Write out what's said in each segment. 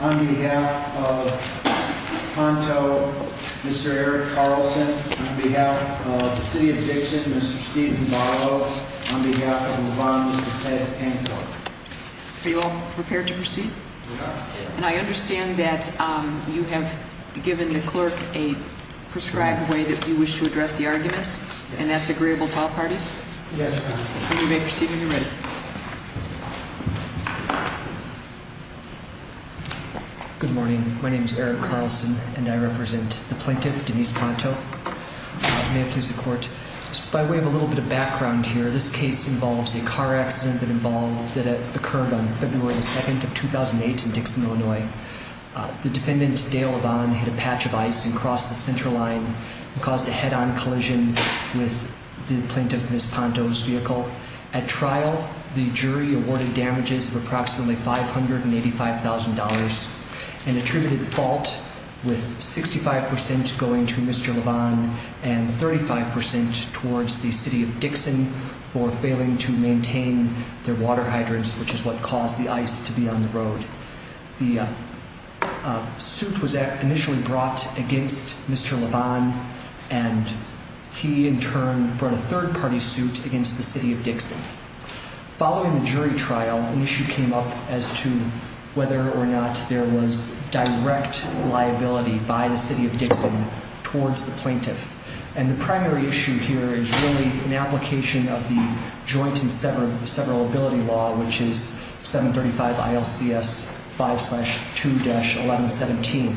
On behalf of Ponto, Mr. Eric Carlson. On behalf of the City of Dixon, Mr. Stephen Barlow. On behalf of LeBron, Mr. Ted Panto. Are you all prepared to proceed? And I understand that you have given the clerk a prescribed way that you wish to address the arguments and that's agreeable to all parties? Yes. You may proceed when you're ready. Good morning. My name is Eric Carlson and I represent the plaintiff, Denise Ponto. May it please the court. By way of a little bit of background here, this case involves a car accident that occurred on February 2nd of 2008 in Dixon, Illinois. The defendant, Dale LeBron, hit a patch of ice and crossed the center line and caused a head-on collision with the plaintiff, Miss Ponto's vehicle. At trial, the jury awarded damages of approximately $585,000 and attributed fault with 65% going to Mr. LeBron and 35% towards the City of Dixon for failing to maintain their water hydrants, which is what caused the ice to be on the road. The suit was initially brought against Mr. LeBron and he in turn brought a third-party suit against the City of Dixon. Following the jury trial, an issue came up as to whether or not there was direct liability by the City of Dixon towards the plaintiff. And the primary issue here is really an application of the joint and severability law, which is 735 ILCS 5-2-1117,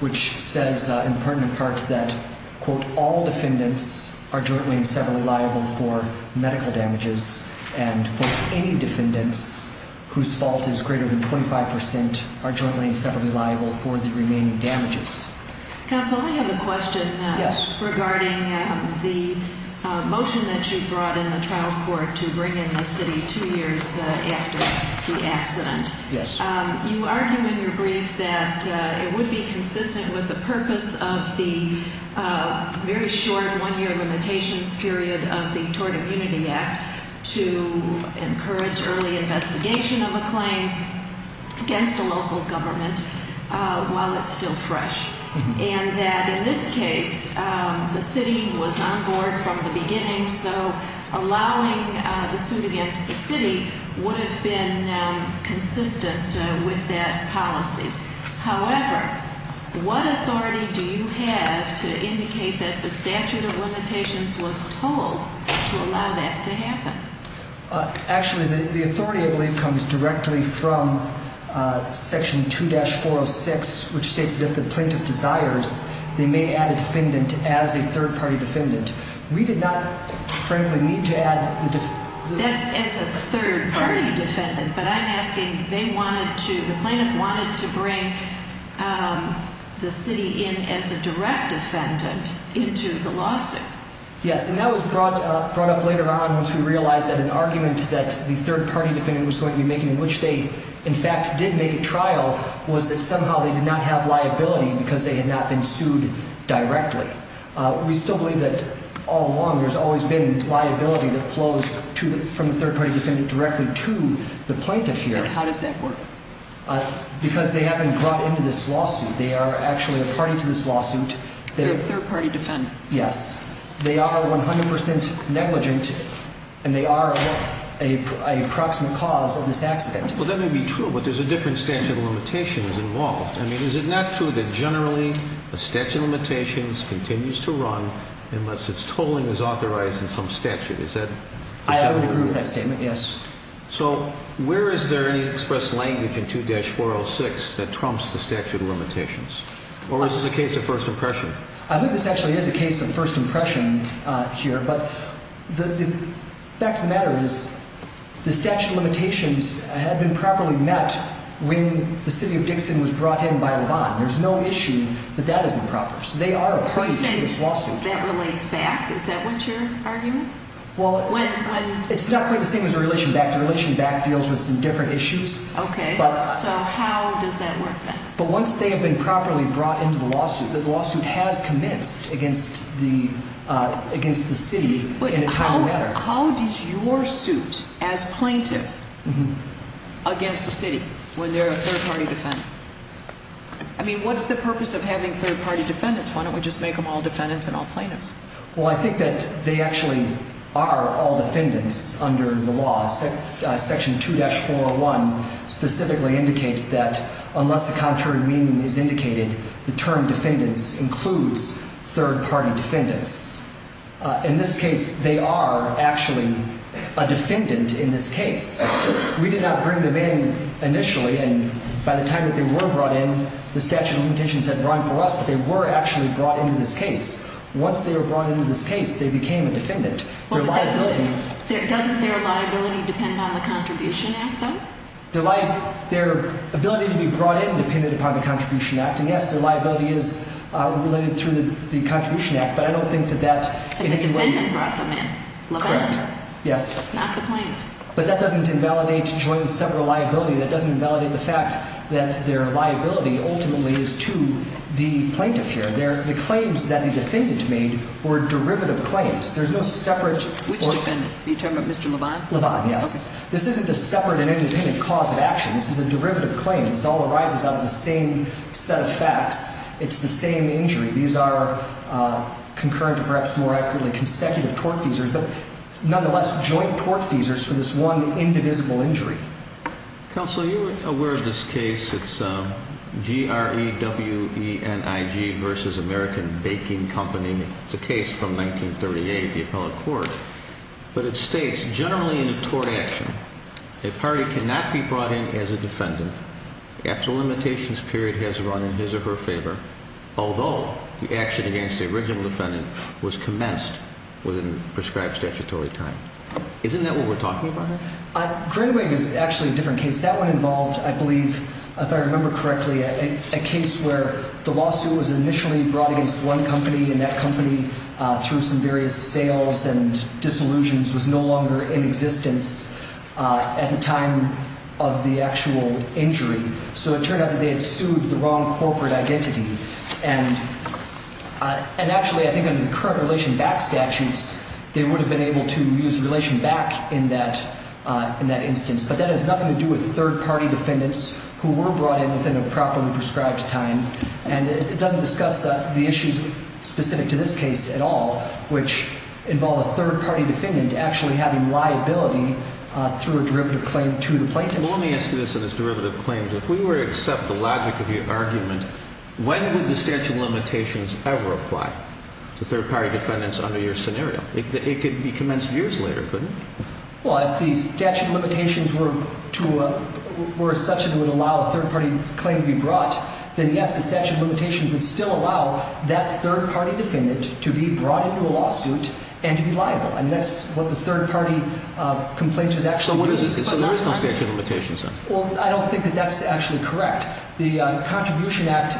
which says in pertinent parts that, quote, all defendants are jointly and severally liable for medical damages and, quote, any defendants whose fault is greater than 25% are jointly and severally liable for the remaining damages. Counsel, I have a question regarding the motion that you brought in the trial court to bring in the City two years after the accident. Yes. You argue in your brief that it would be consistent with the purpose of the very short one-year limitations period of the Tort Immunity Act to encourage early investigation of a claim against a local government while it's still fresh, and that in this case the City was on board from the beginning, so allowing the suit against the City would have been consistent with that policy. However, what authority do you have to indicate that the statute of limitations was told to allow that to happen? Actually, the authority, I believe, comes directly from Section 2-406, which states that if the plaintiff desires, they may add a defendant as a third-party defendant. We did not, frankly, need to add the defendant. That's as a third-party defendant, but I'm asking, they wanted to, the plaintiff wanted to bring the City in as a direct defendant into the lawsuit. Yes, and that was brought up later on once we realized that an argument that the third-party defendant was going to be making, in which they, in fact, did make a trial, was that somehow they did not have liability because they had not been sued directly. We still believe that all along there's always been liability that flows from the third-party defendant directly to the plaintiff here. And how does that work? Because they haven't brought into this lawsuit. They are actually a party to this lawsuit. They're a third-party defendant. Yes. They are 100% negligent, and they are an approximate cause of this accident. Well, that may be true, but there's a different statute of limitations involved. I mean, is it not true that generally a statute of limitations continues to run unless its tolling is authorized in some statute? I would agree with that statement, yes. So where is there any expressed language in 2-406 that trumps the statute of limitations? Or is this a case of first impression? I think this actually is a case of first impression here. But the fact of the matter is the statute of limitations had been properly met when the city of Dixon was brought in by LeVon. There's no issue that that is improper. So they are a party to this lawsuit. When you say that relates back, is that what you're arguing? Well, it's not quite the same as a relation back. The relation back deals with some different issues. Okay. So how does that work then? But once they have been properly brought into the lawsuit, the lawsuit has commenced against the city in a timely manner. How does your suit as plaintiff against the city when they're a third-party defendant? I mean, what's the purpose of having third-party defendants? Why don't we just make them all defendants and all plaintiffs? Well, I think that they actually are all defendants under the law. Section 2-401 specifically indicates that unless the contrary meaning is indicated, the term defendants includes third-party defendants. In this case, they are actually a defendant in this case. We did not bring them in initially. And by the time that they were brought in, the statute of limitations had run for us, but they were actually brought into this case. Once they were brought into this case, they became a defendant. Well, but doesn't their liability depend on the Contribution Act, though? Their ability to be brought in depended upon the Contribution Act. And, yes, their liability is related through the Contribution Act, but I don't think that that in any way— The defendant brought them in. Correct. Yes. Not the plaintiff. But that doesn't invalidate joint sever liability. That doesn't invalidate the fact that their liability ultimately is to the plaintiff here. The claims that the defendant made were derivative claims. There's no separate— Which defendant? Are you talking about Mr. Levine? Levine, yes. This isn't a separate and independent cause of action. This is a derivative claim. This all arises out of the same set of facts. It's the same injury. These are concurrent, or perhaps more accurately, consecutive tort feasors, but nonetheless joint tort feasors for this one indivisible injury. Counsel, are you aware of this case? It's GREWENIG v. American Baking Company. It's a case from 1938, the appellate court, but it states, generally in a tort action, a party cannot be brought in as a defendant after a limitations period has run in his or her favor, although the action against the original defendant was commenced within prescribed statutory time. Isn't that what we're talking about here? GREWENIG is actually a different case. That one involved, I believe, if I remember correctly, a case where the lawsuit was initially brought against one company, and that company, through some various sales and disillusions, was no longer in existence at the time of the actual injury. So it turned out that they had sued the wrong corporate identity. And actually, I think under the current Relation Back statutes, they would have been able to use Relation Back in that instance. But that has nothing to do with third-party defendants who were brought in within a properly prescribed time. And it doesn't discuss the issues specific to this case at all, which involve a third-party defendant actually having liability through a derivative claim to the plaintiff. Well, let me ask you this on this derivative claim. If we were to accept the logic of your argument, when would the statute of limitations ever apply to third-party defendants under your scenario? It could be commenced years later, couldn't it? Well, if the statute of limitations were such that it would allow a third-party claim to be brought, then yes, the statute of limitations would still allow that third-party defendant to be brought into a lawsuit and to be liable. And that's what the third-party complaint is actually doing. So there is no statute of limitations then? Well, I don't think that that's actually correct. The Contribution Act,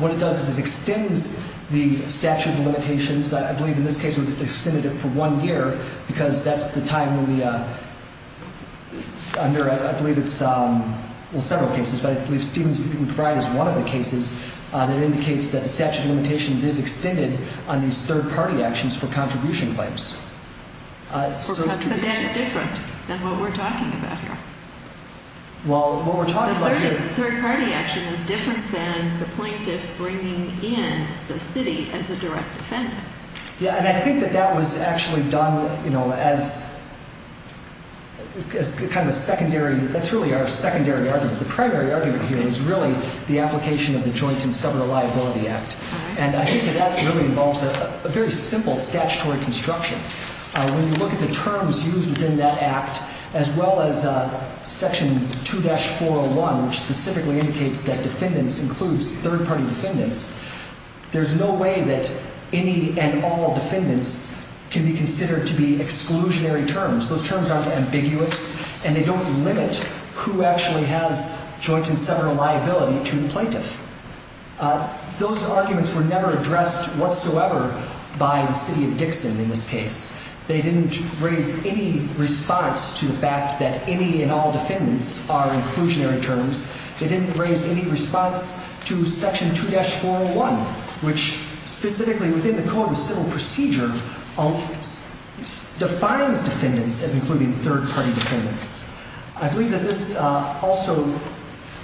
what it does is it extends the statute of limitations. I believe in this case it extended it for one year because that's the time when we are under, I believe it's several cases, but I believe Stevens v. McBride is one of the cases that indicates that the statute of limitations is extended on these third-party actions for contribution claims. But that's different than what we're talking about here. Well, what we're talking about here The third-party action is different than the plaintiff bringing in the city as a direct defendant. Yeah, and I think that that was actually done, you know, as kind of a secondary, that's really our secondary argument. The primary argument here is really the application of the Joint and Several Liability Act. And I think that that really involves a very simple statutory construction. When you look at the terms used within that act, as well as Section 2-401, which specifically indicates that defendants includes third-party defendants, there's no way that any and all defendants can be considered to be exclusionary terms. Those terms aren't ambiguous, and they don't limit who actually has joint and several liability to the plaintiff. Those arguments were never addressed whatsoever by the city of Dixon in this case. They didn't raise any response to the fact that any and all defendants are inclusionary terms. They didn't raise any response to Section 2-401, which specifically within the Code of Civil Procedure defines defendants as including third-party defendants. I believe that this also,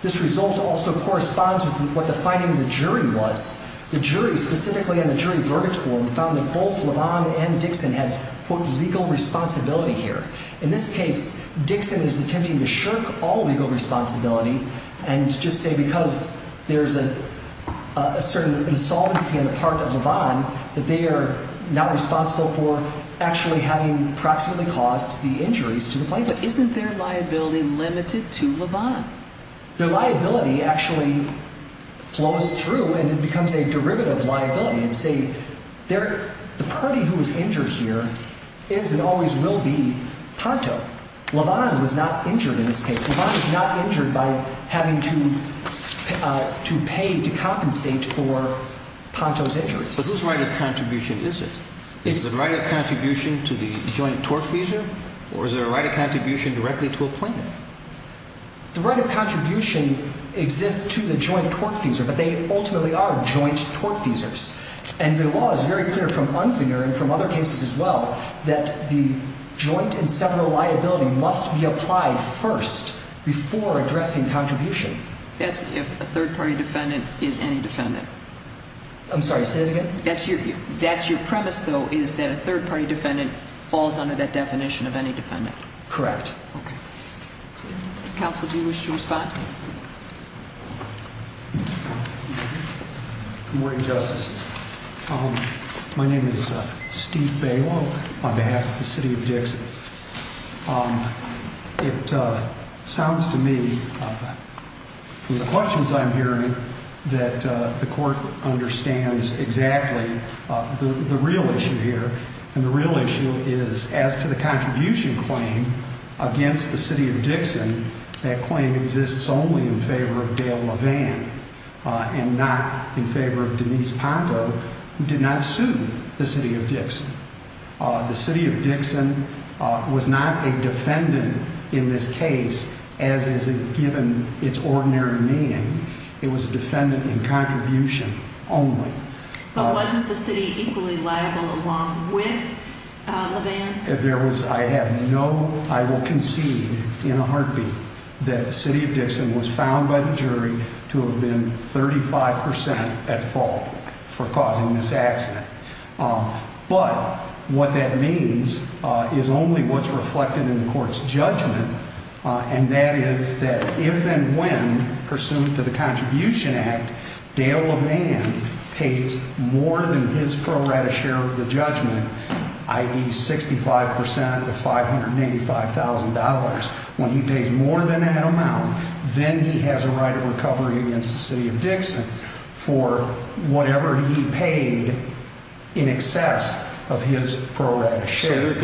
this result also corresponds with what the finding of the jury was. The jury, specifically in the jury verdict form, found that both LeVon and Dixon had, quote, legal responsibility here. In this case, Dixon is attempting to shirk all legal responsibility and just say because there's a certain insolvency on the part of LeVon that they are not responsible for actually having proximately caused the injuries to the plaintiff. But isn't their liability limited to LeVon? Their liability actually flows through and becomes a derivative liability and say the party who was injured here is and always will be Ponto. LeVon was not injured in this case. LeVon was not injured by having to pay to compensate for Ponto's injuries. But whose right of contribution is it? Is the right of contribution to the joint tortfeasor or is there a right of contribution directly to a plaintiff? The right of contribution exists to the joint tortfeasor, but they ultimately are joint tortfeasors. And the law is very clear from Unzinger and from other cases as well that the joint and several liability must be applied first before addressing contribution. That's if a third-party defendant is any defendant. I'm sorry, say that again? That's your premise, though, is that a third-party defendant falls under that definition of any defendant. Correct. Counsel, do you wish to respond? Good morning, Justice. My name is Steve Baylow on behalf of the city of Dixit. It sounds to me from the questions I'm hearing that the court understands exactly the real issue here. And the real issue is as to the contribution claim against the city of Dixit, that claim exists only in favor of Dale LeVon and not in favor of Denise Ponto, who did not sue the city of Dixit. The city of Dixit was not a defendant in this case, as is given its ordinary meaning. It was a defendant in contribution only. But wasn't the city equally liable along with LeVon? There was no, I will concede in a heartbeat, that the city of Dixit was found by the jury to have been 35 percent at fault for causing this accident. But what that means is only what's reflected in the court's judgment, and that is that if and when, pursuant to the Contribution Act, Dale LeVon pays more than his pro rata share of the judgment, i.e., 65 percent of $585,000, when he pays more than that amount, then he has a right of recovery against the city of Dixit for whatever he paid in excess of his pro rata share.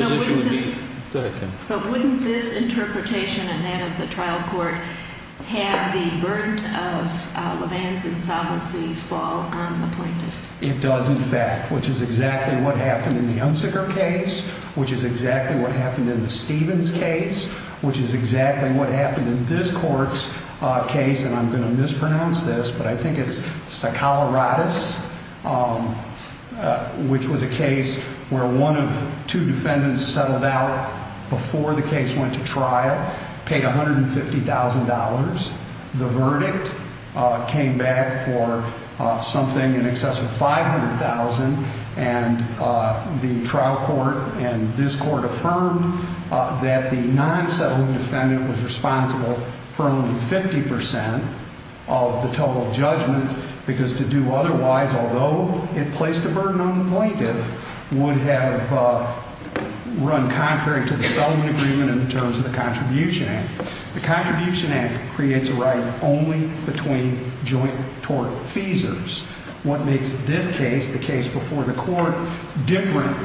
But wouldn't this interpretation and that of the trial court have the burden of LeVon's insolvency fall on the plaintiff? It does, in fact, which is exactly what happened in the Unsecker case, which is exactly what happened in the Stevens case, which is exactly what happened in this court's case. And I'm going to mispronounce this, but I think it's Sacalaratus, which was a case where one of two defendants settled out before the case went to trial, paid $150,000. The verdict came back for something in excess of $500,000, and the trial court and this court affirmed that the non-settling defendant was responsible for only 50 percent of the total judgment, because to do otherwise, although it placed a burden on the plaintiff, would have run contrary to the settlement agreement in terms of the Contribution Act. The Contribution Act creates a right only between joint tort feasors. What makes this case, the case before the court, different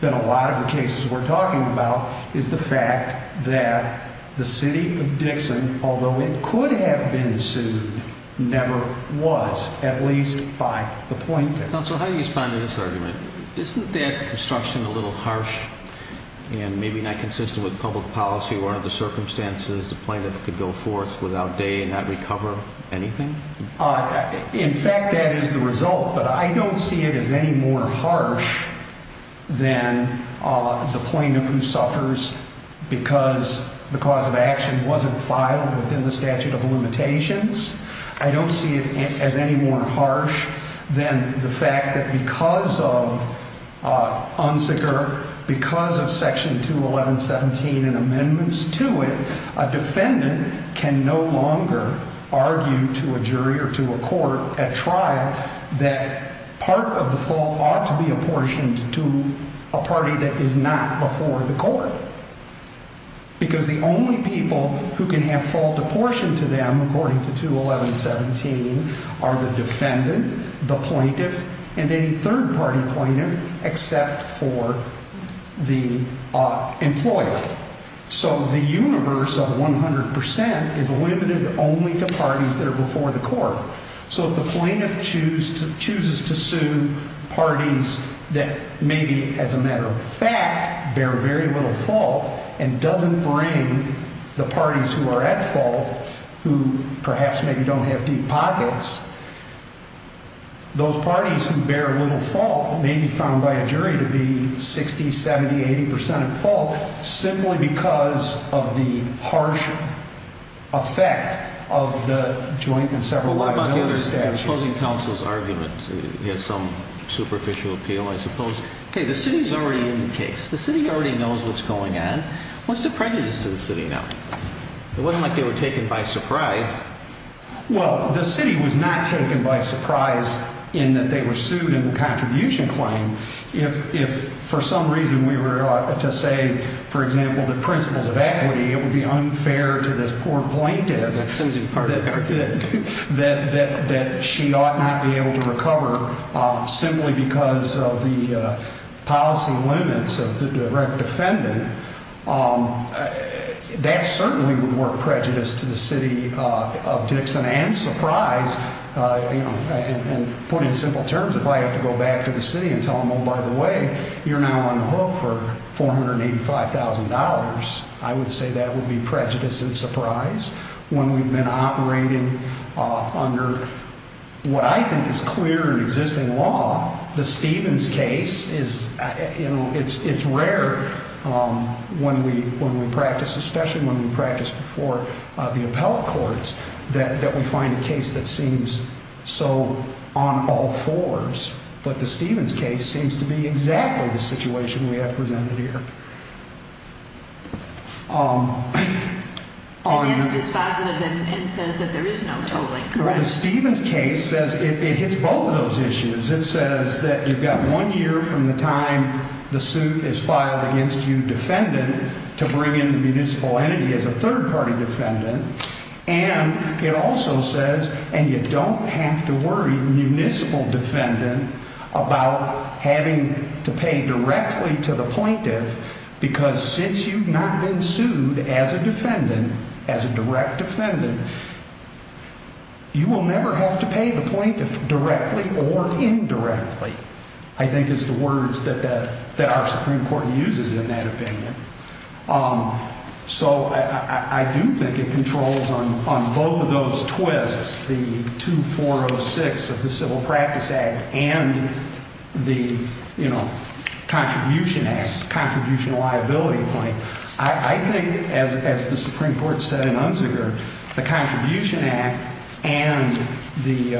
than a lot of the cases we're talking about is the fact that the city of Dixon, although it could have been sued, never was, at least by the plaintiff. Mr. Counsel, how do you respond to this argument? Isn't that construction a little harsh and maybe not consistent with public policy where under the circumstances the plaintiff could go forth without day and not recover anything? In fact, that is the result, but I don't see it as any more harsh than the plaintiff who suffers because the cause of action wasn't filed within the statute of limitations. I don't see it as any more harsh than the fact that because of UNSCR, because of Section 211.17 and amendments to it, a defendant can no longer argue to a jury or to a court at trial that part of the fault ought to be apportioned to a party that is not before the court. Because the only people who can have full apportionment to them, according to 211.17, are the defendant, the plaintiff, and any third party plaintiff except for the employer. So the universe of 100% is limited only to parties that are before the court. So if the plaintiff chooses to sue parties that maybe, as a matter of fact, bear very little fault and doesn't bring the parties who are at fault, who perhaps maybe don't have deep pockets, those parties who bear little fault may be found by a jury to be 60, 70, 80% at fault simply because of the harsh effect of the joint and several other factors. The opposing counsel's argument has some superficial appeal, I suppose. Okay, the city's already in the case. The city already knows what's going on. What's the prejudice to the city now? It wasn't like they were taken by surprise. Well, the city was not taken by surprise in that they were sued in the contribution claim. If, for some reason, we were to say, for example, the principles of equity, it would be unfair to this poor plaintiff that she ought not be able to recover simply because of the policy limits of the direct defendant, that certainly would work prejudice to the city of Dixon. And put in simple terms, if I have to go back to the city and tell them, oh, by the way, you're now on the hook for $485,000, I would say that would be prejudice and surprise when we've been operating under what I think is clear and existing law. The Stevens case is, you know, it's rare when we practice, especially when we practice before the appellate courts, that we find a case that seems so on all fours. But the Stevens case seems to be exactly the situation we have presented here. And it's dispositive and says that there is no tolling, correct? The Stevens case says it hits both of those issues. It says that you've got one year from the time the suit is filed against you, defendant, to bring in the municipal entity as a third party defendant. And it also says, and you don't have to worry, municipal defendant, about having to pay directly to the plaintiff because since you've not been sued as a defendant, as a direct defendant. You will never have to pay the plaintiff directly or indirectly, I think is the words that our Supreme Court uses in that opinion. So I do think it controls on both of those twists, the 2406 of the Civil Practice Act and the, you know, Contribution Act, contribution liability claim. So I think, as the Supreme Court said in Unziger, the Contribution Act and the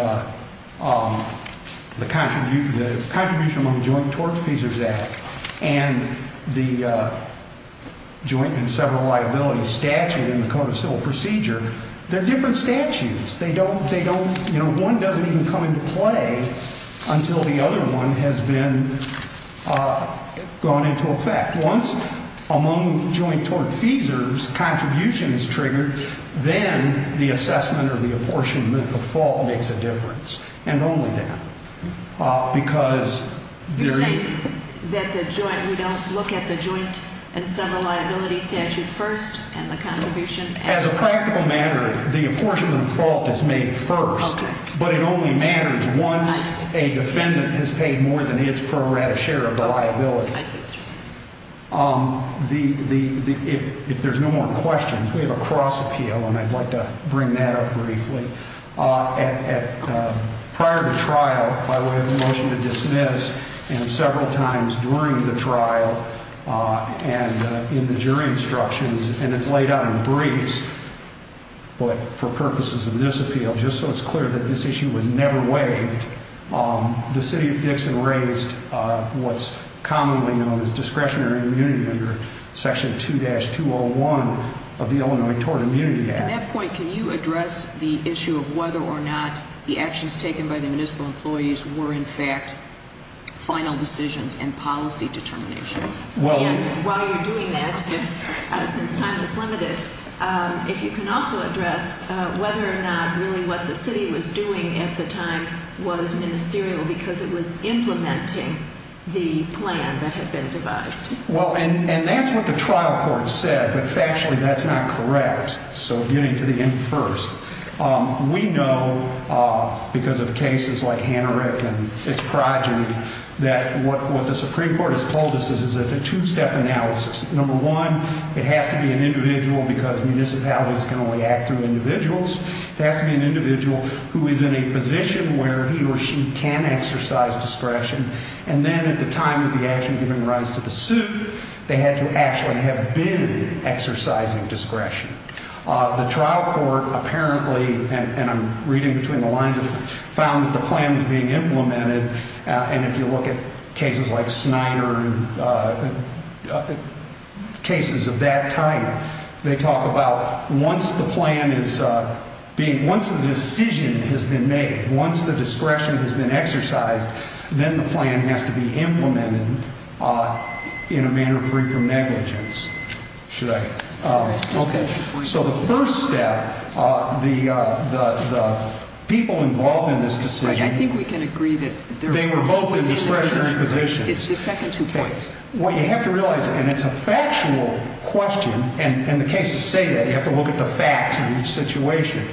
Contribution Among Joint Tort Feasers Act and the Joint and Several Liabilities Statute in the Code of Civil Procedure, they're different statutes. They don't, you know, one doesn't even come into play until the other one has been gone into effect. Once Among Joint Tort Feasers, contribution is triggered, then the assessment or the apportionment of fault makes a difference, and only that. Because they're- You're saying that the joint, we don't look at the Joint and Several Liabilities Statute first and the contribution- As a practical matter, the apportionment of fault is made first. Okay. But it only matters once a defendant has paid more than his pro rata share of the liability. I see what you're saying. If there's no more questions, we have a cross appeal, and I'd like to bring that up briefly. Prior to trial, by way of a motion to dismiss and several times during the trial and in the jury instructions, and it's laid out in briefs, but for purposes of this appeal, just so it's clear that this issue was never waived, the city of Dixon raised what's commonly known as discretionary immunity under Section 2-201 of the Illinois Tort Immunity Act. At that point, can you address the issue of whether or not the actions taken by the municipal employees were, in fact, final decisions and policy determinations? And while you're doing that, since time is limited, if you can also address whether or not really what the city was doing at the time was ministerial because it was implementing the plan that had been devised. Well, and that's what the trial court said, but factually that's not correct. So getting to the end first. We know because of cases like Hanarik and its progeny that what the Supreme Court has told us is a two-step analysis. Number one, it has to be an individual because municipalities can only act through individuals. It has to be an individual who is in a position where he or she can exercise discretion. And then at the time of the action giving rise to the suit, they had to actually have been exercising discretion. The trial court apparently, and I'm reading between the lines of it, found that the plan was being implemented. And if you look at cases like Snyder and cases of that type, they talk about once the plan is being, once the decision has been made, once the discretion has been exercised, then the plan has to be implemented in a manner free from negligence. Should I? Okay. So the first step, the people involved in this decision. I think we can agree that they were both in discretionary positions. It's the second two points. What you have to realize, and it's a factual question, and in the case of Seda, you have to look at the facts of each situation.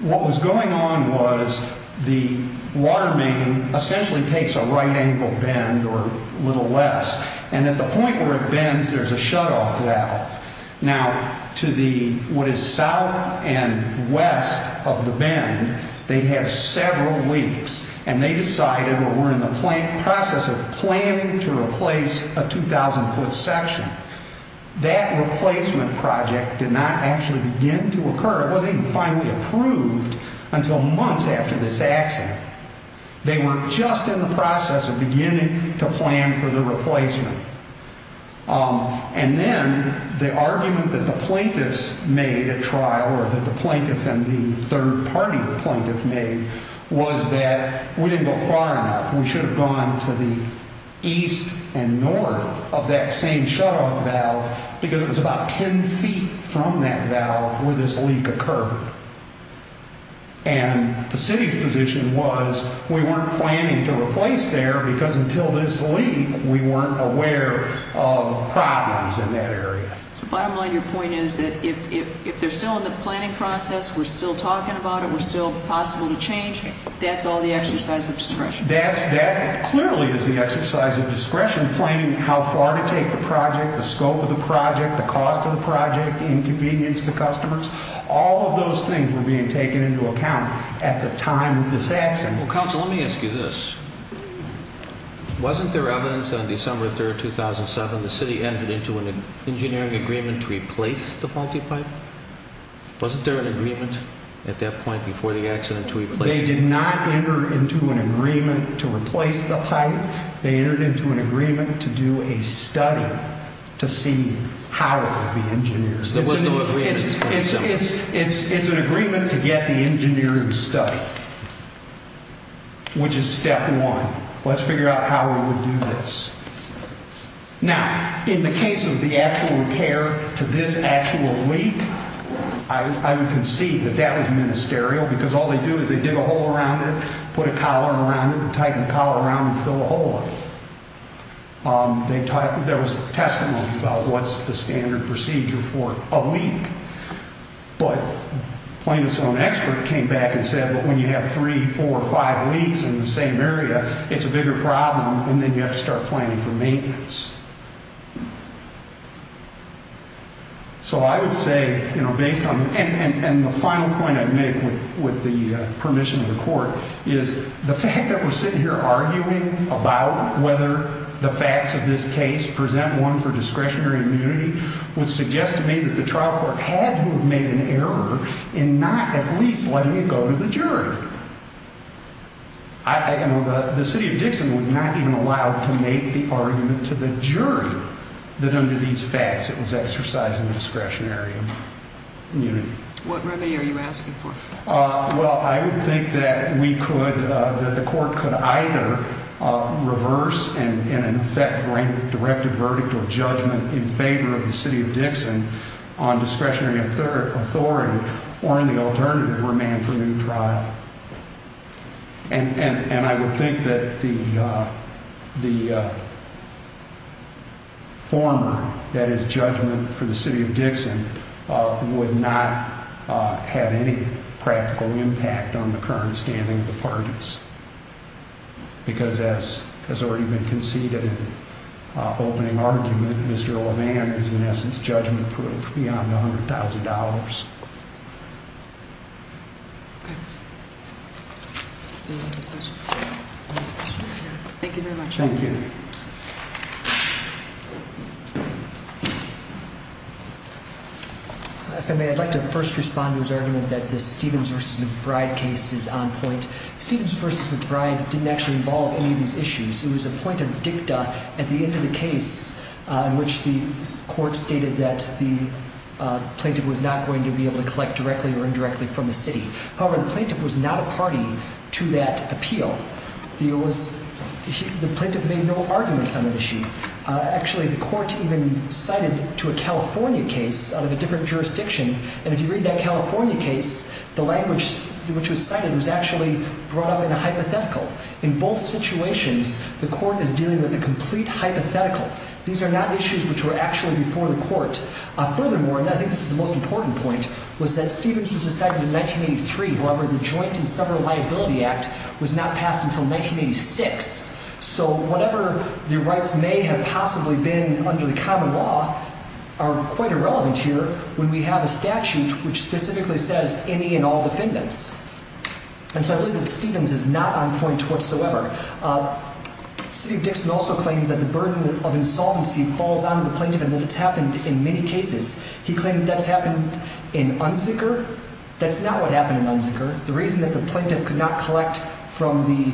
What was going on was the water main essentially takes a right angle bend or a little less. And at the point where it bends, there's a shutoff valve. Now, to the, what is south and west of the bend, they have several weeks, and they decided or were in the process of planning to replace a 2,000-foot section. That replacement project did not actually begin to occur. It wasn't even finally approved until months after this accident. They were just in the process of beginning to plan for the replacement. And then the argument that the plaintiffs made at trial or that the plaintiff and the third-party plaintiff made was that we didn't go far enough. We should have gone to the east and north of that same shutoff valve because it was about ten feet from that valve where this leak occurred. And the city's position was we weren't planning to replace there because until this leak, we weren't aware of problems in that area. So bottom line, your point is that if they're still in the planning process, we're still talking about it, we're still possible to change, that's all the exercise of discretion. That clearly is the exercise of discretion, planning how far to take the project, the scope of the project, the cost of the project, inconvenience to customers. All of those things were being taken into account at the time of this accident. Well, counsel, let me ask you this. Wasn't there evidence on December 3, 2007, the city entered into an engineering agreement to replace the faulty pipe? Wasn't there an agreement at that point before the accident to replace it? They did not enter into an agreement to replace the pipe. They entered into an agreement to do a study to see how it would be engineered. It's an agreement to get the engineering study, which is step one. Let's figure out how we would do this. Now, in the case of the actual repair to this actual leak, I would concede that that was ministerial because all they do is they dig a hole around it, put a collar around it, tighten the collar around it, fill a hole in it. There was testimony about what's the standard procedure for a leak, but plaintiff's own expert came back and said, but when you have three, four, five leaks in the same area, it's a bigger problem, and then you have to start planning for maintenance. So I would say, and the final point I'd make with the permission of the court, is the fact that we're sitting here arguing about whether the facts of this case present one for discretionary immunity would suggest to me that the trial court had to have made an error in not at least letting it go to the jury. The city of Dixon was not even allowed to make the argument to the jury that under these facts it was exercising discretionary immunity. What remedy are you asking for? Well, I would think that we could, that the court could either reverse and, in effect, bring directed verdict or judgment in favor of the city of Dixon on discretionary authority or, in the alternative, remain for new trial. And I would think that the former, that is, judgment for the city of Dixon, would not have any practical impact on the current standing of the parties, because as has already been conceded in opening argument, Mr. LeVan is, in essence, judgment-proof beyond $100,000. Any other questions? Thank you very much. Thank you. If I may, I'd like to first respond to his argument that the Stevens v. McBride case is on point. Stevens v. McBride didn't actually involve any of these issues. It was a point of dicta at the end of the case in which the court stated that the plaintiff was not going to be able to collect directly or indirectly from the city. However, the plaintiff was not a party to that appeal. The plaintiff made no arguments on that issue. Actually, the court even cited to a California case out of a different jurisdiction, and if you read that California case, the language which was cited was actually brought up in a hypothetical. In both situations, the court is dealing with a complete hypothetical. These are not issues which were actually before the court. Furthermore, and I think this is the most important point, was that Stevens was decided in 1983. However, the Joint and Several Liability Act was not passed until 1986. So whatever the rights may have possibly been under the common law are quite irrelevant here when we have a statute which specifically says any and all defendants. And so I believe that Stevens is not on point whatsoever. City of Dixon also claims that the burden of insolvency falls on the plaintiff and that it's happened in many cases. He claimed that that's happened in Unzicker. That's not what happened in Unzicker. The reason that the plaintiff could not collect from the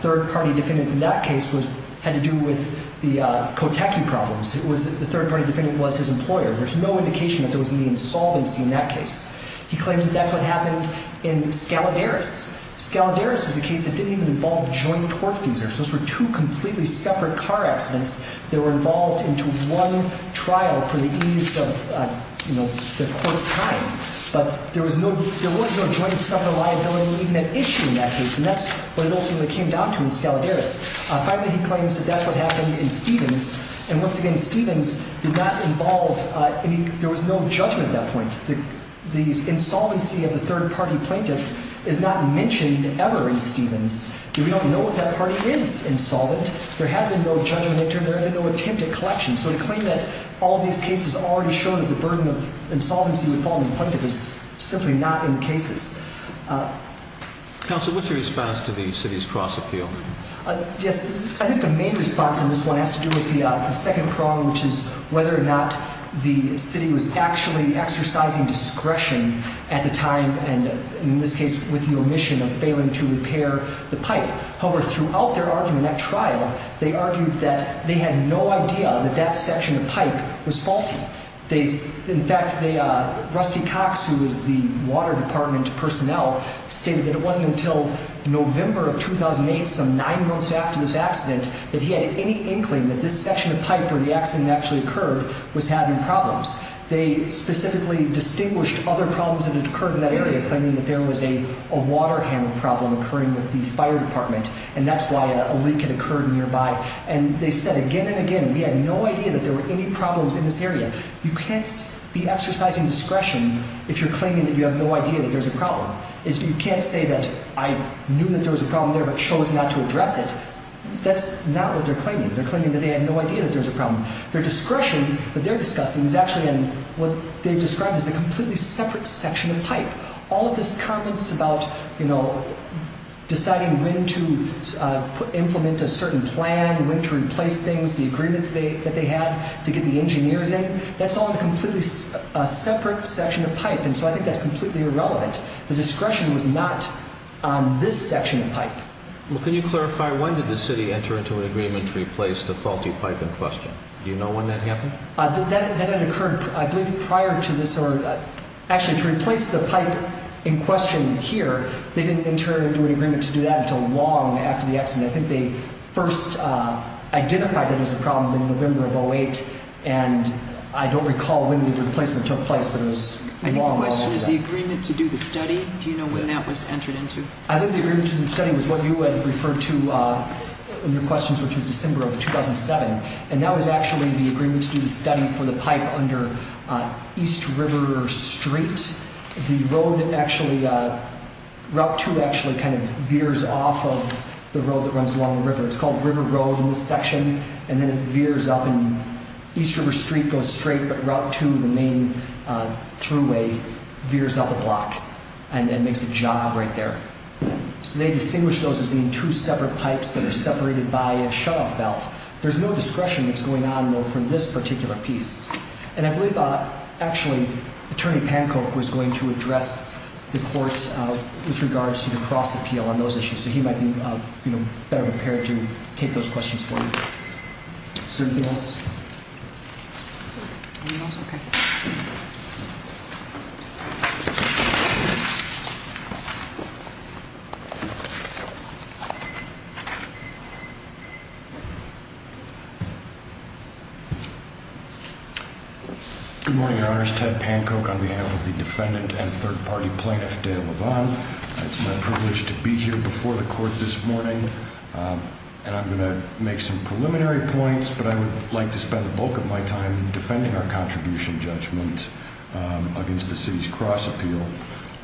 third-party defendant in that case had to do with the Kotacki problems. The third-party defendant was his employer. There's no indication that there was any insolvency in that case. He claims that that's what happened in Scaladaris. Scaladaris was a case that didn't even involve joint tort feasors. Those were two completely separate car accidents that were involved into one trial for the ease of the court's time. But there was no joint sever liability even at issue in that case, and that's what it ultimately came down to in Scaladaris. Finally, he claims that that's what happened in Stevens. And once again, Stevens did not involve any—there was no judgment at that point. The insolvency of the third-party plaintiff is not mentioned ever in Stevens. We don't know if that party is insolvent. There had been no judgment in turn. There had been no attempt at collection. So to claim that all of these cases already show that the burden of insolvency would fall on the plaintiff is simply not in cases. Counsel, what's your response to the city's cross-appeal? Yes, I think the main response in this one has to do with the second prong, which is whether or not the city was actually exercising discretion at the time, and in this case with the omission of failing to repair the pipe. However, throughout their argument at trial, they argued that they had no idea that that section of pipe was faulty. In fact, Rusty Cox, who was the water department personnel, stated that it wasn't until November of 2008, some nine months after this accident, that he had any inkling that this section of pipe where the accident actually occurred was having problems. They specifically distinguished other problems that had occurred in that area, claiming that there was a water handling problem occurring with the fire department, and that's why a leak had occurred nearby. And they said again and again, we had no idea that there were any problems in this area. You can't be exercising discretion if you're claiming that you have no idea that there's a problem. You can't say that I knew that there was a problem there but chose not to address it. That's not what they're claiming. They're claiming that they had no idea that there was a problem. Their discretion that they're discussing is actually in what they described as a completely separate section of pipe. All of this comments about, you know, deciding when to implement a certain plan, when to replace things, the agreement that they had to get the engineers in, that's all in a completely separate section of pipe, and so I think that's completely irrelevant. The discretion was not on this section of pipe. Well, can you clarify, when did the city enter into an agreement to replace the faulty pipe in question? Do you know when that happened? That had occurred, I believe, prior to this. Actually, to replace the pipe in question here, they didn't enter into an agreement to do that until long after the accident. I think they first identified it as a problem in November of 2008, and I don't recall when the replacement took place, but it was long, long after that. I think the question is the agreement to do the study. Do you know when that was entered into? I think the agreement to do the study was what you had referred to in your questions, which was December of 2007. And that was actually the agreement to do the study for the pipe under East River Street. The road actually, Route 2 actually kind of veers off of the road that runs along the river. It's called River Road in this section, and then it veers up, and East River Street goes straight, but Route 2, the main throughway, veers up a block and makes a job right there. So they distinguished those as being two separate pipes that are separated by a shutoff valve. There's no discretion that's going on, though, for this particular piece. And I believe, actually, Attorney Pankow was going to address the court with regards to the cross-appeal on those issues, so he might be better prepared to take those questions forward. Anything else? Anything else? OK. Good morning, Your Honors. Ted Pankow on behalf of the defendant and third-party plaintiff, Dale LaVon. It's my privilege to be here before the court this morning, and I'm going to make some preliminary points, but I would like to spend the bulk of my time defending our contribution judgment against the city's cross-appeal.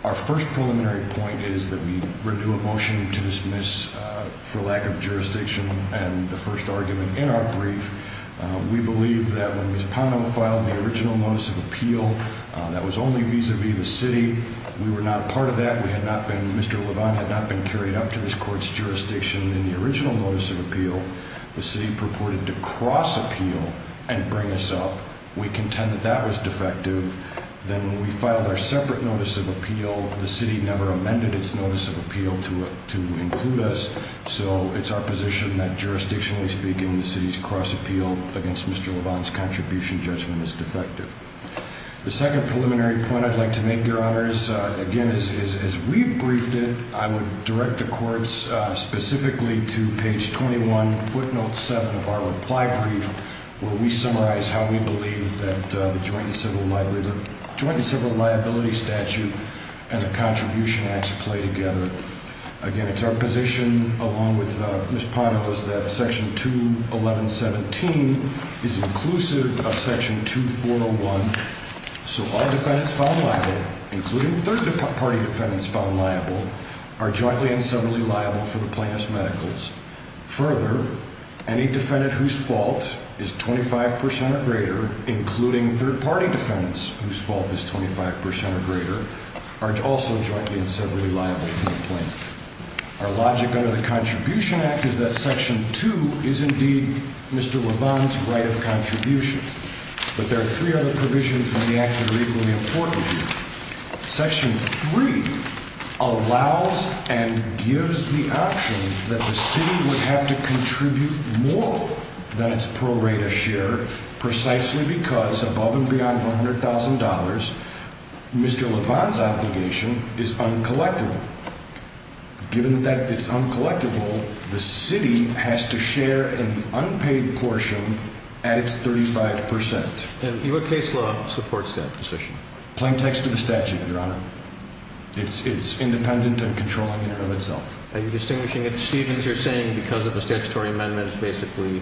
Our first preliminary point is that we renew a motion to dismiss for lack of jurisdiction and the first argument in our brief. We believe that when Ms. Pankow filed the original notice of appeal, that was only vis-à-vis the city. We were not a part of that. Mr. LaVon had not been carried up to his court's jurisdiction in the original notice of appeal. The city purported to cross-appeal and bring us up. We contend that that was defective. Then when we filed our separate notice of appeal, the city never amended its notice of appeal to include us, so it's our position that, jurisdictionally speaking, the city's cross-appeal against Mr. LaVon's contribution judgment is defective. The second preliminary point I'd like to make, Your Honors, again, as we've briefed it, I would direct the courts specifically to page 21, footnote 7 of our reply brief, where we summarize how we believe that the Joint and Civil Liability Statute and the Contribution Act play together. Again, it's our position, along with Ms. Pankow's, that Section 211.17 is inclusive of Section 2401, so all defendants found liable, including third-party defendants found liable, are jointly and severally liable for the plaintiff's medicals. Further, any defendant whose fault is 25 percent or greater, including third-party defendants whose fault is 25 percent or greater, are also jointly and severally liable to the plaintiff. Our logic under the Contribution Act is that Section 2 is indeed Mr. LaVon's right of contribution, but there are three other provisions in the act that are equally important here. Section 3 allows and gives the option that the city would have to contribute more than its pro rata share, precisely because, above and beyond $100,000, Mr. LaVon's obligation is uncollectible. Given that it's uncollectible, the city has to share an unpaid portion at its 35 percent. And what case law supports that decision? Plain text of the statute, Your Honor. It's independent and controlling in and of itself. Are you distinguishing it, Steve, as you're saying, because of a statutory amendment, basically?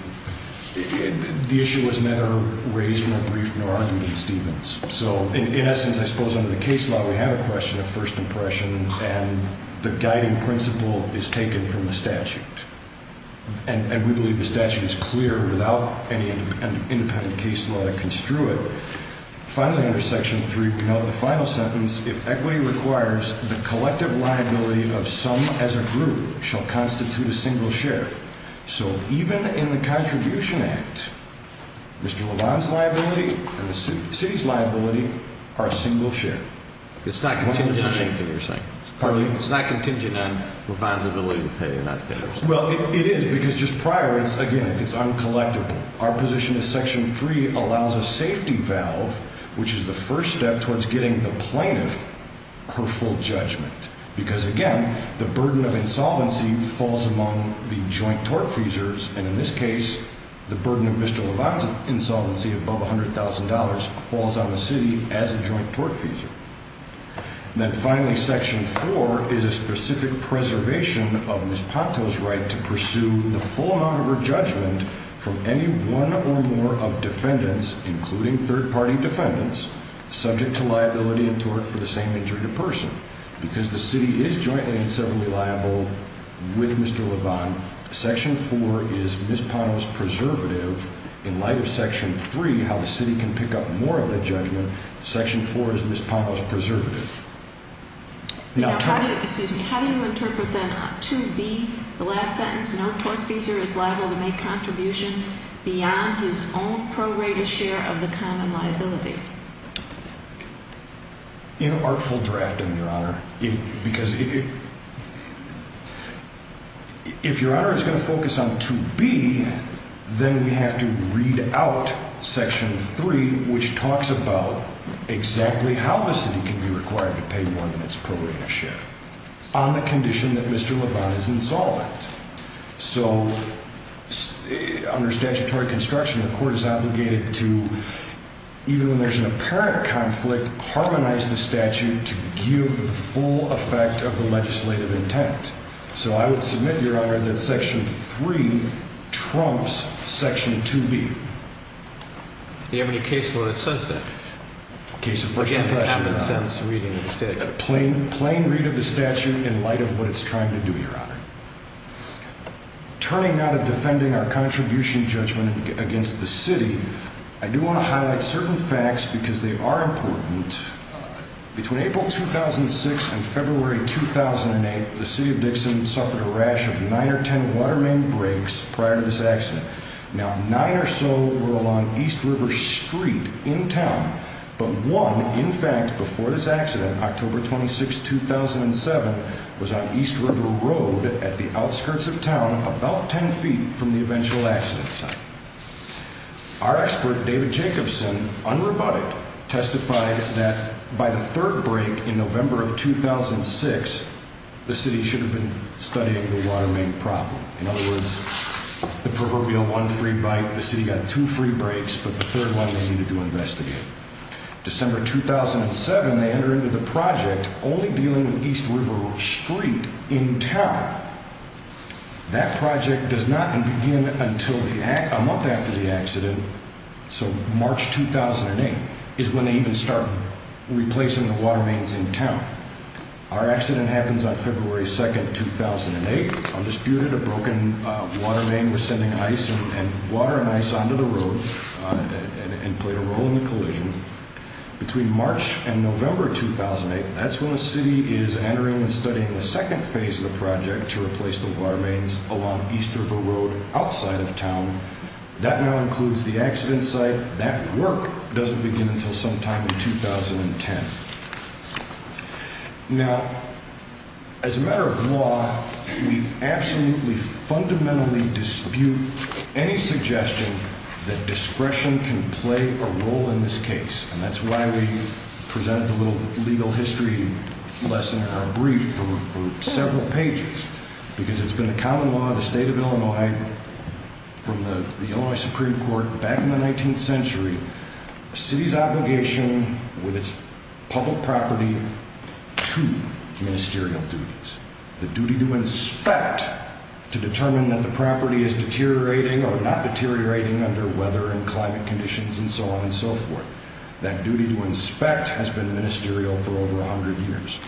The issue was neither raised nor briefed nor argued in Stevens. So, in essence, I suppose under the case law, we have a question of first impression, and the guiding principle is taken from the statute. And we believe the statute is clear without any independent case law to construe it. Finally, under Section 3, we know the final sentence, if equity requires, the collective liability of some as a group shall constitute a single share. So, even in the Contribution Act, Mr. LaVon's liability and the city's liability are a single share. It's not contingent on anything you're saying. Pardon me? It's not contingent on LaVon's ability to pay, not theirs. Well, it is, because just prior, it's, again, if it's uncollectible. Our position is Section 3 allows a safety valve, which is the first step towards getting the plaintiff her full judgment. Because, again, the burden of insolvency falls among the joint tortfeasors, and in this case, the burden of Mr. LaVon's insolvency above $100,000 falls on the city as a joint tortfeasor. Then, finally, Section 4 is a specific preservation of Ms. Ponto's right to pursue the full amount of her judgment from any one or more of defendants, including third-party defendants, subject to liability and tort for the same injury to person. Because the city is jointly and severally liable with Mr. LaVon, Section 4 is Ms. Ponto's preservative. In light of Section 3, how the city can pick up more of the judgment, Section 4 is Ms. Ponto's preservative. Now, how do you interpret, then, 2B, the last sentence, no tortfeasor is liable to make contribution beyond his own prorated share of the common liability? Inartful drafting, Your Honor. Because if Your Honor is going to focus on 2B, then we have to read out Section 3, which talks about exactly how the city can be required to pay more than its prorated share on the condition that Mr. LaVon is insolvent. So, under statutory construction, the court is obligated to, even when there's an apparent conflict, harmonize the statute to give the full effect of the legislative intent. So I would submit, Your Honor, that Section 3 trumps Section 2B. Do you have any case law that says that? A case of first impression, Your Honor. Plain read of the statute in light of what it's trying to do, Your Honor. Turning now to defending our contribution judgment against the city, I do want to highlight certain facts because they are important. Between April 2006 and February 2008, the city of Dixon suffered a rash of nine or ten water main breaks prior to this accident. Now, nine or so were along East River Street in town, but one, in fact, before this accident, October 26, 2007, was on East River Road at the outskirts of town about ten feet from the eventual accident site. Our expert, David Jacobson, unrebutted, testified that by the third break in November of 2006, the city should have been studying the water main problem. In other words, the proverbial one free bite. The city got two free breaks, but the third one they needed to investigate. December 2007, they entered into the project only dealing with East River Street in town. That project does not begin until a month after the accident. So March 2008 is when they even start replacing the water mains in town. Our accident happens on February 2, 2008. Undisputed, a broken water main was sending ice and water and ice onto the road and played a role in the collision. Between March and November 2008, that's when the city is entering and studying the second phase of the project to replace the water mains along East River Road outside of town. That now includes the accident site. However, that work doesn't begin until sometime in 2010. Now, as a matter of law, we absolutely fundamentally dispute any suggestion that discretion can play a role in this case. And that's why we present a little legal history lesson or a brief for several pages. Because it's been a common law of the state of Illinois from the Illinois Supreme Court back in the 19th century. A city's obligation with its public property to ministerial duties. The duty to inspect to determine that the property is deteriorating or not deteriorating under weather and climate conditions and so on and so forth. That duty to inspect has been ministerial for over 100 years.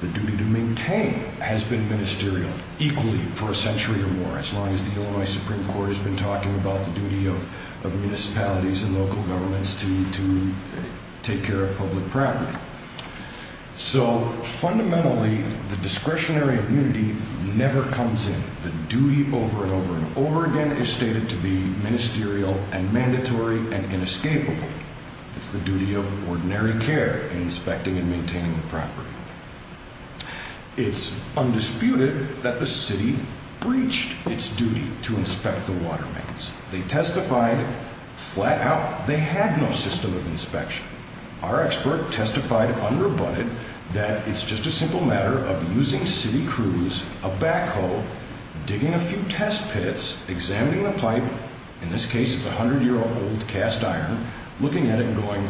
The duty to maintain has been ministerial equally for a century or more, as long as the Illinois Supreme Court has been talking about the duty of municipalities and local governments to take care of public property. So, fundamentally, the discretionary immunity never comes in. The duty over and over and over again is stated to be ministerial and mandatory and inescapable. It's the duty of ordinary care in inspecting and maintaining the property. It's undisputed that the city breached its duty to inspect the water mains. They testified flat out they had no system of inspection. Our expert testified unrebutted that it's just a simple matter of using city crews, a backhoe, digging a few test pits, examining the pipe, in this case it's 100-year-old cast iron, looking at it and going,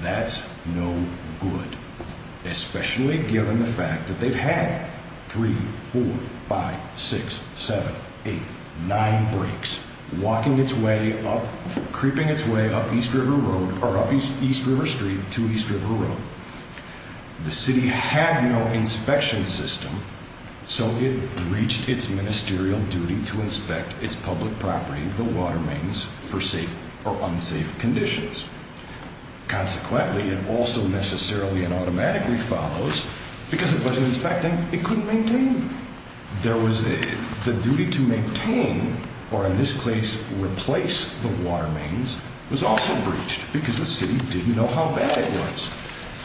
that's no good, especially given the fact that they've had 3, 4, 5, 6, 7, 8, 9 breaks, walking its way up, creeping its way up East River Road or up East River Street to East River Road. The city had no inspection system, so it breached its ministerial duty to inspect its public property, the water mains, for safe or unsafe conditions. Consequently, it also necessarily and automatically follows, because it wasn't inspecting, it couldn't maintain. The duty to maintain, or in this case replace, the water mains was also breached because the city didn't know how bad it was.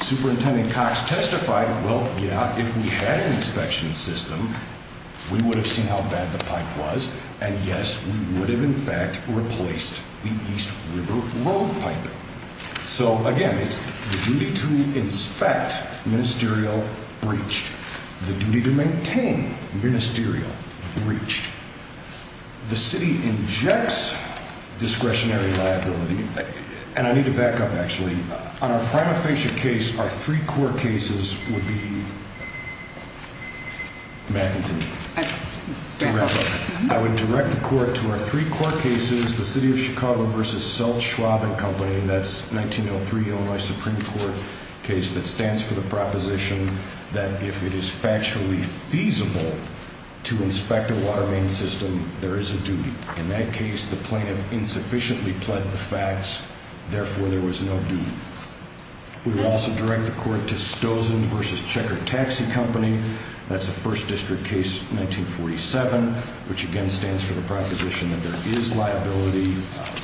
Superintendent Cox testified, well, yeah, if we had an inspection system, we would have seen how bad the pipe was, and yes, we would have in fact replaced the East River Road pipe. So, again, it's the duty to inspect, ministerial, breached. The city injects discretionary liability. And I need to back up, actually. On our prima facie case, our three court cases would be... In that case, the plaintiff insufficiently pled the facts. Therefore, there was no duty. We would also direct the court to Stosen v. Checker Taxi Company. That's the first district case, 1947, which again stands for the proposition that there is liability.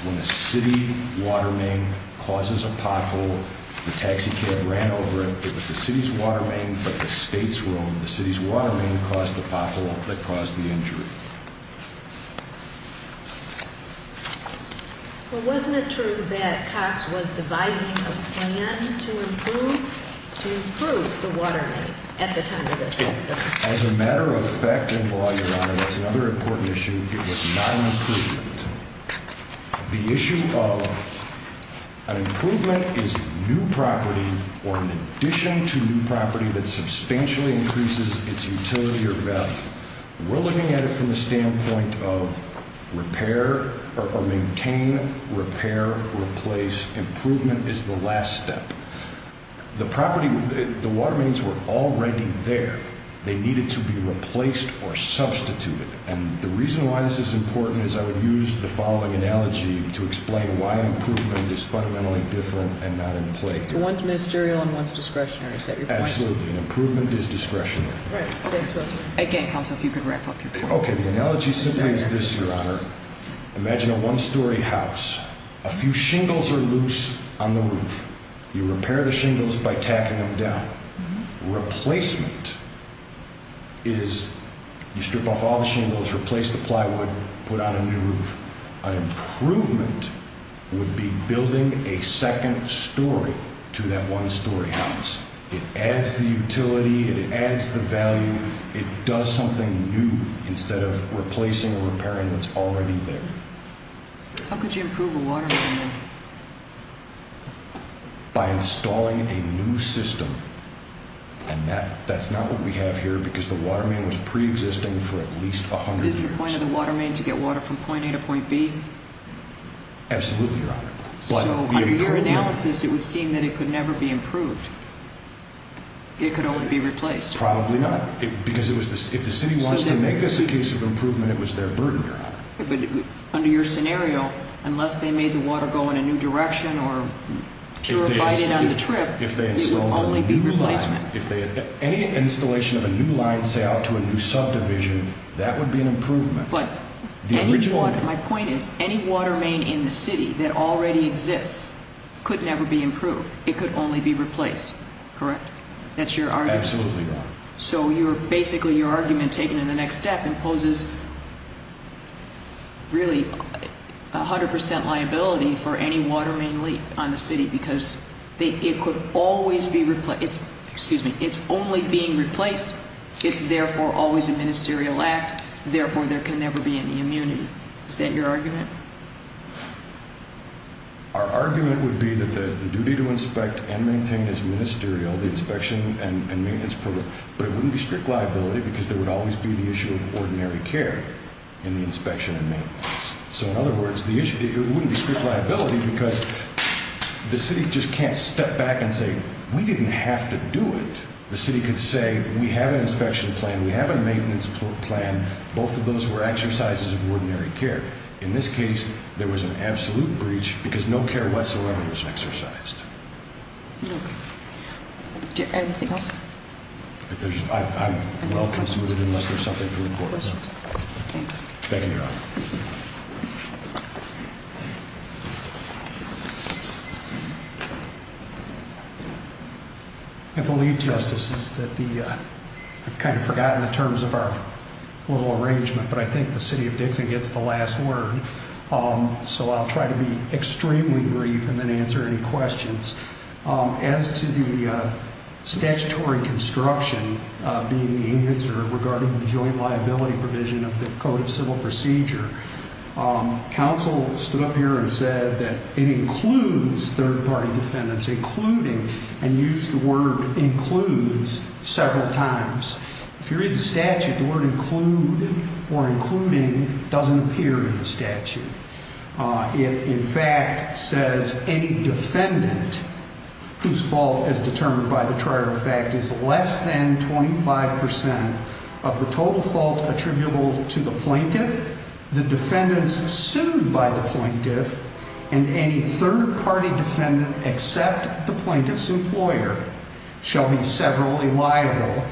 When a city water main causes a pothole, the taxi cab ran over it. It was the city's water main, but the states were on. The city's water main caused the pothole that caused the injury. Well, wasn't it true that Cox was devising a plan to improve the water main at the time of this incident? As a matter of fact and law, Your Honor, there's another important issue. It was not an improvement. The issue of an improvement is new property or an addition to new property that substantially increases its utility or value. We're looking at it from the standpoint of repair or maintain, repair, replace. Improvement is the last step. The property, the water mains were already there. They needed to be replaced or substituted. And the reason why this is important is I would use the following analogy to explain why improvement is fundamentally different and not in play. So one's ministerial and one's discretionary, is that your point? Absolutely. Improvement is discretionary. Right. Thanks, Russell. Again, counsel, if you could wrap up your point. Okay. The analogy simply is this, Your Honor. Imagine a one-story house. A few shingles are loose on the roof. You repair the shingles by tacking them down. Replacement is you strip off all the shingles, replace the plywood, put on a new roof. An improvement would be building a second story to that one-story house. It adds the utility. It adds the value. It does something new instead of replacing or repairing what's already there. How could you improve a water main? By installing a new system. And that's not what we have here because the water main was preexisting for at least 100 years. But is the point of the water main to get water from point A to point B? Absolutely, Your Honor. So under your analysis, it would seem that it could never be improved. It could only be replaced. Probably not. Because if the city wants to make this a case of improvement, it was their burden, Your Honor. Under your scenario, unless they made the water go in a new direction or purified it on the trip, it would only be replacement. Any installation of a new line, say, out to a new subdivision, that would be an improvement. But my point is any water main in the city that already exists could never be improved. It could only be replaced. Correct? That's your argument. Absolutely, Your Honor. So basically your argument, taken in the next step, imposes really 100% liability for any water main leak on the city because it could always be replaced. Excuse me. It's only being replaced. It's therefore always a ministerial act. Therefore, there can never be any immunity. Is that your argument? Our argument would be that the duty to inspect and maintain is ministerial, the inspection and maintenance program. But it wouldn't be strict liability because there would always be the issue of ordinary care in the inspection and maintenance. So, in other words, it wouldn't be strict liability because the city just can't step back and say, we didn't have to do it. The city could say, we have an inspection plan, we have a maintenance plan. Both of those were exercises of ordinary care. In this case, there was an absolute breach because no care whatsoever was exercised. Okay. Anything else? I'm well-considered unless there's something from the court about it. Thanks. Thank you, Your Honor. I believe, Justices, that the, I've kind of forgotten the terms of our little arrangement, but I think the city of Dixon gets the last word. So I'll try to be extremely brief and then answer any questions. As to the statutory construction being answered regarding the joint liability provision of the Code of Civil Procedure, counsel stood up here and said that it includes third-party defendants, including, and used the word includes several times. If you read the statute, the word include or including doesn't appear in the statute. It, in fact, says any defendant whose fault as determined by the trier of fact is less than 25 percent of the total fault attributable to the plaintiff, the defendants sued by the plaintiff, and any third-party defendant except the plaintiff's employer shall be severally liable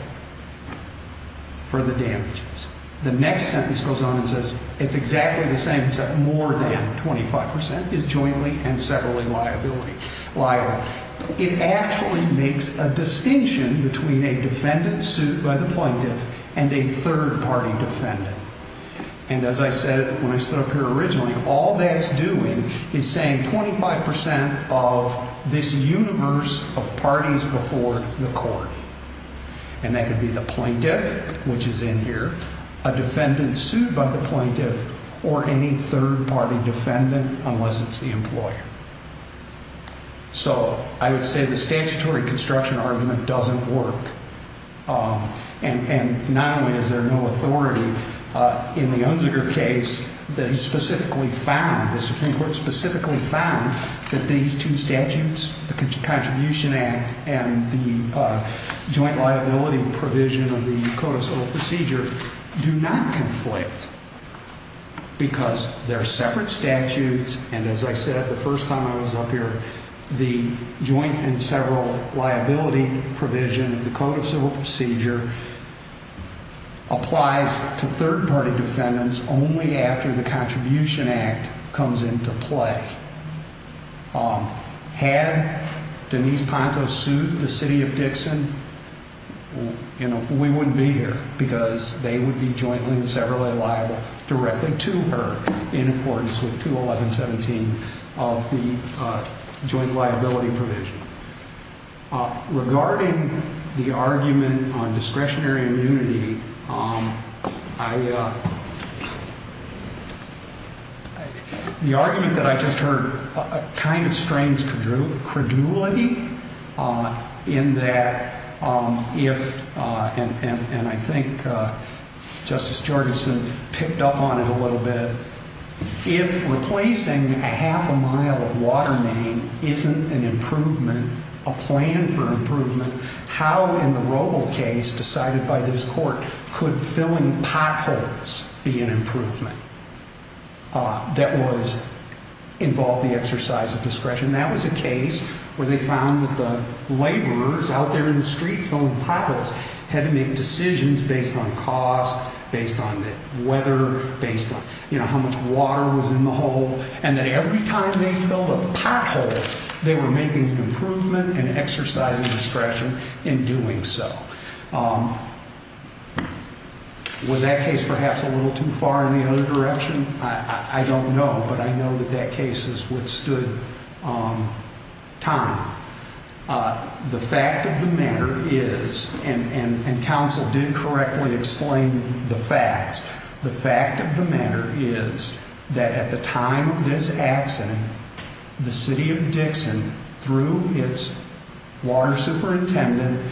for the damages. The next sentence goes on and says it's exactly the same except more than 25 percent is jointly and severally liable. It actually makes a distinction between a defendant sued by the plaintiff and a third-party defendant. And as I said when I stood up here originally, all that's doing is saying 25 percent of this universe of parties before the court. And that could be the plaintiff, which is in here, a defendant sued by the plaintiff, or any third-party defendant unless it's the employer. So I would say the statutory construction argument doesn't work. And not only is there no authority, in the Unziger case, they specifically found, the Supreme Court specifically found that these two statutes, the Contribution Act and the joint liability provision of the Code of Civil Procedure, do not conflict because they're separate statutes. And as I said the first time I was up here, the joint and several liability provision of the Code of Civil Procedure applies to third-party defendants only after the Contribution Act comes into play. Had Denise Panto sued the city of Dixon, we wouldn't be here because they would be jointly and severally liable directly to her in accordance with 211.17 of the joint liability provision. Regarding the argument on discretionary immunity, the argument that I just heard kind of strains credulity in that if, and I think Justice Jorgenson picked up on it a little bit, if replacing a half a mile of water main isn't an improvement, a plan for improvement, how in the Roble case decided by this court could filling potholes be an improvement that would involve the exercise of discretion? That was a case where they found that the laborers out there in the street filling potholes had to make decisions based on cost, based on the weather, based on how much water was in the hole, and that every time they filled a pothole, they were making an improvement and exercising discretion in doing so. Was that case perhaps a little too far in the other direction? I don't know, but I know that that case has withstood time. The fact of the matter is, and counsel did correctly explain the facts, the fact of the matter is that at the time of this accident, the city of Dixon, through its water superintendent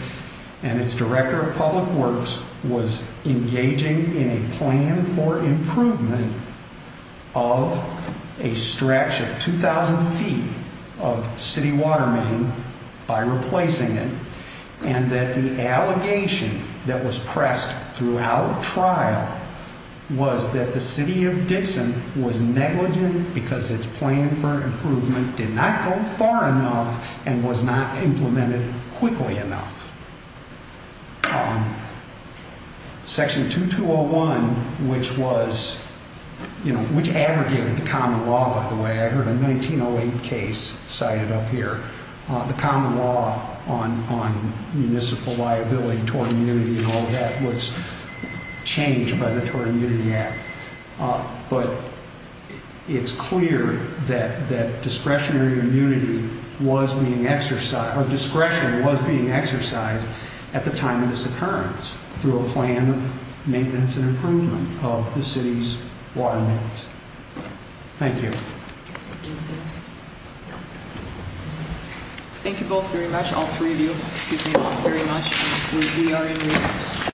and its director of public works, was engaging in a plan for improvement of a stretch of 2,000 feet of city water main by replacing it, and that the allegation that was pressed throughout trial was that the city of Dixon was negligent because its plan for improvement did not go far enough and was not implemented quickly enough. Section 2201, which was, you know, which abrogated the common law, by the way. I heard a 1908 case cited up here. The common law on municipal liability, tort immunity and all that was changed by the Tort Immunity Act. But it's clear that discretionary immunity was being exercised, or discretion was being exercised at the time of this occurrence through a plan of maintenance and improvement of the city's water mains. Thank you. Thank you both very much, all three of you, excuse me, all very much. We are in recess.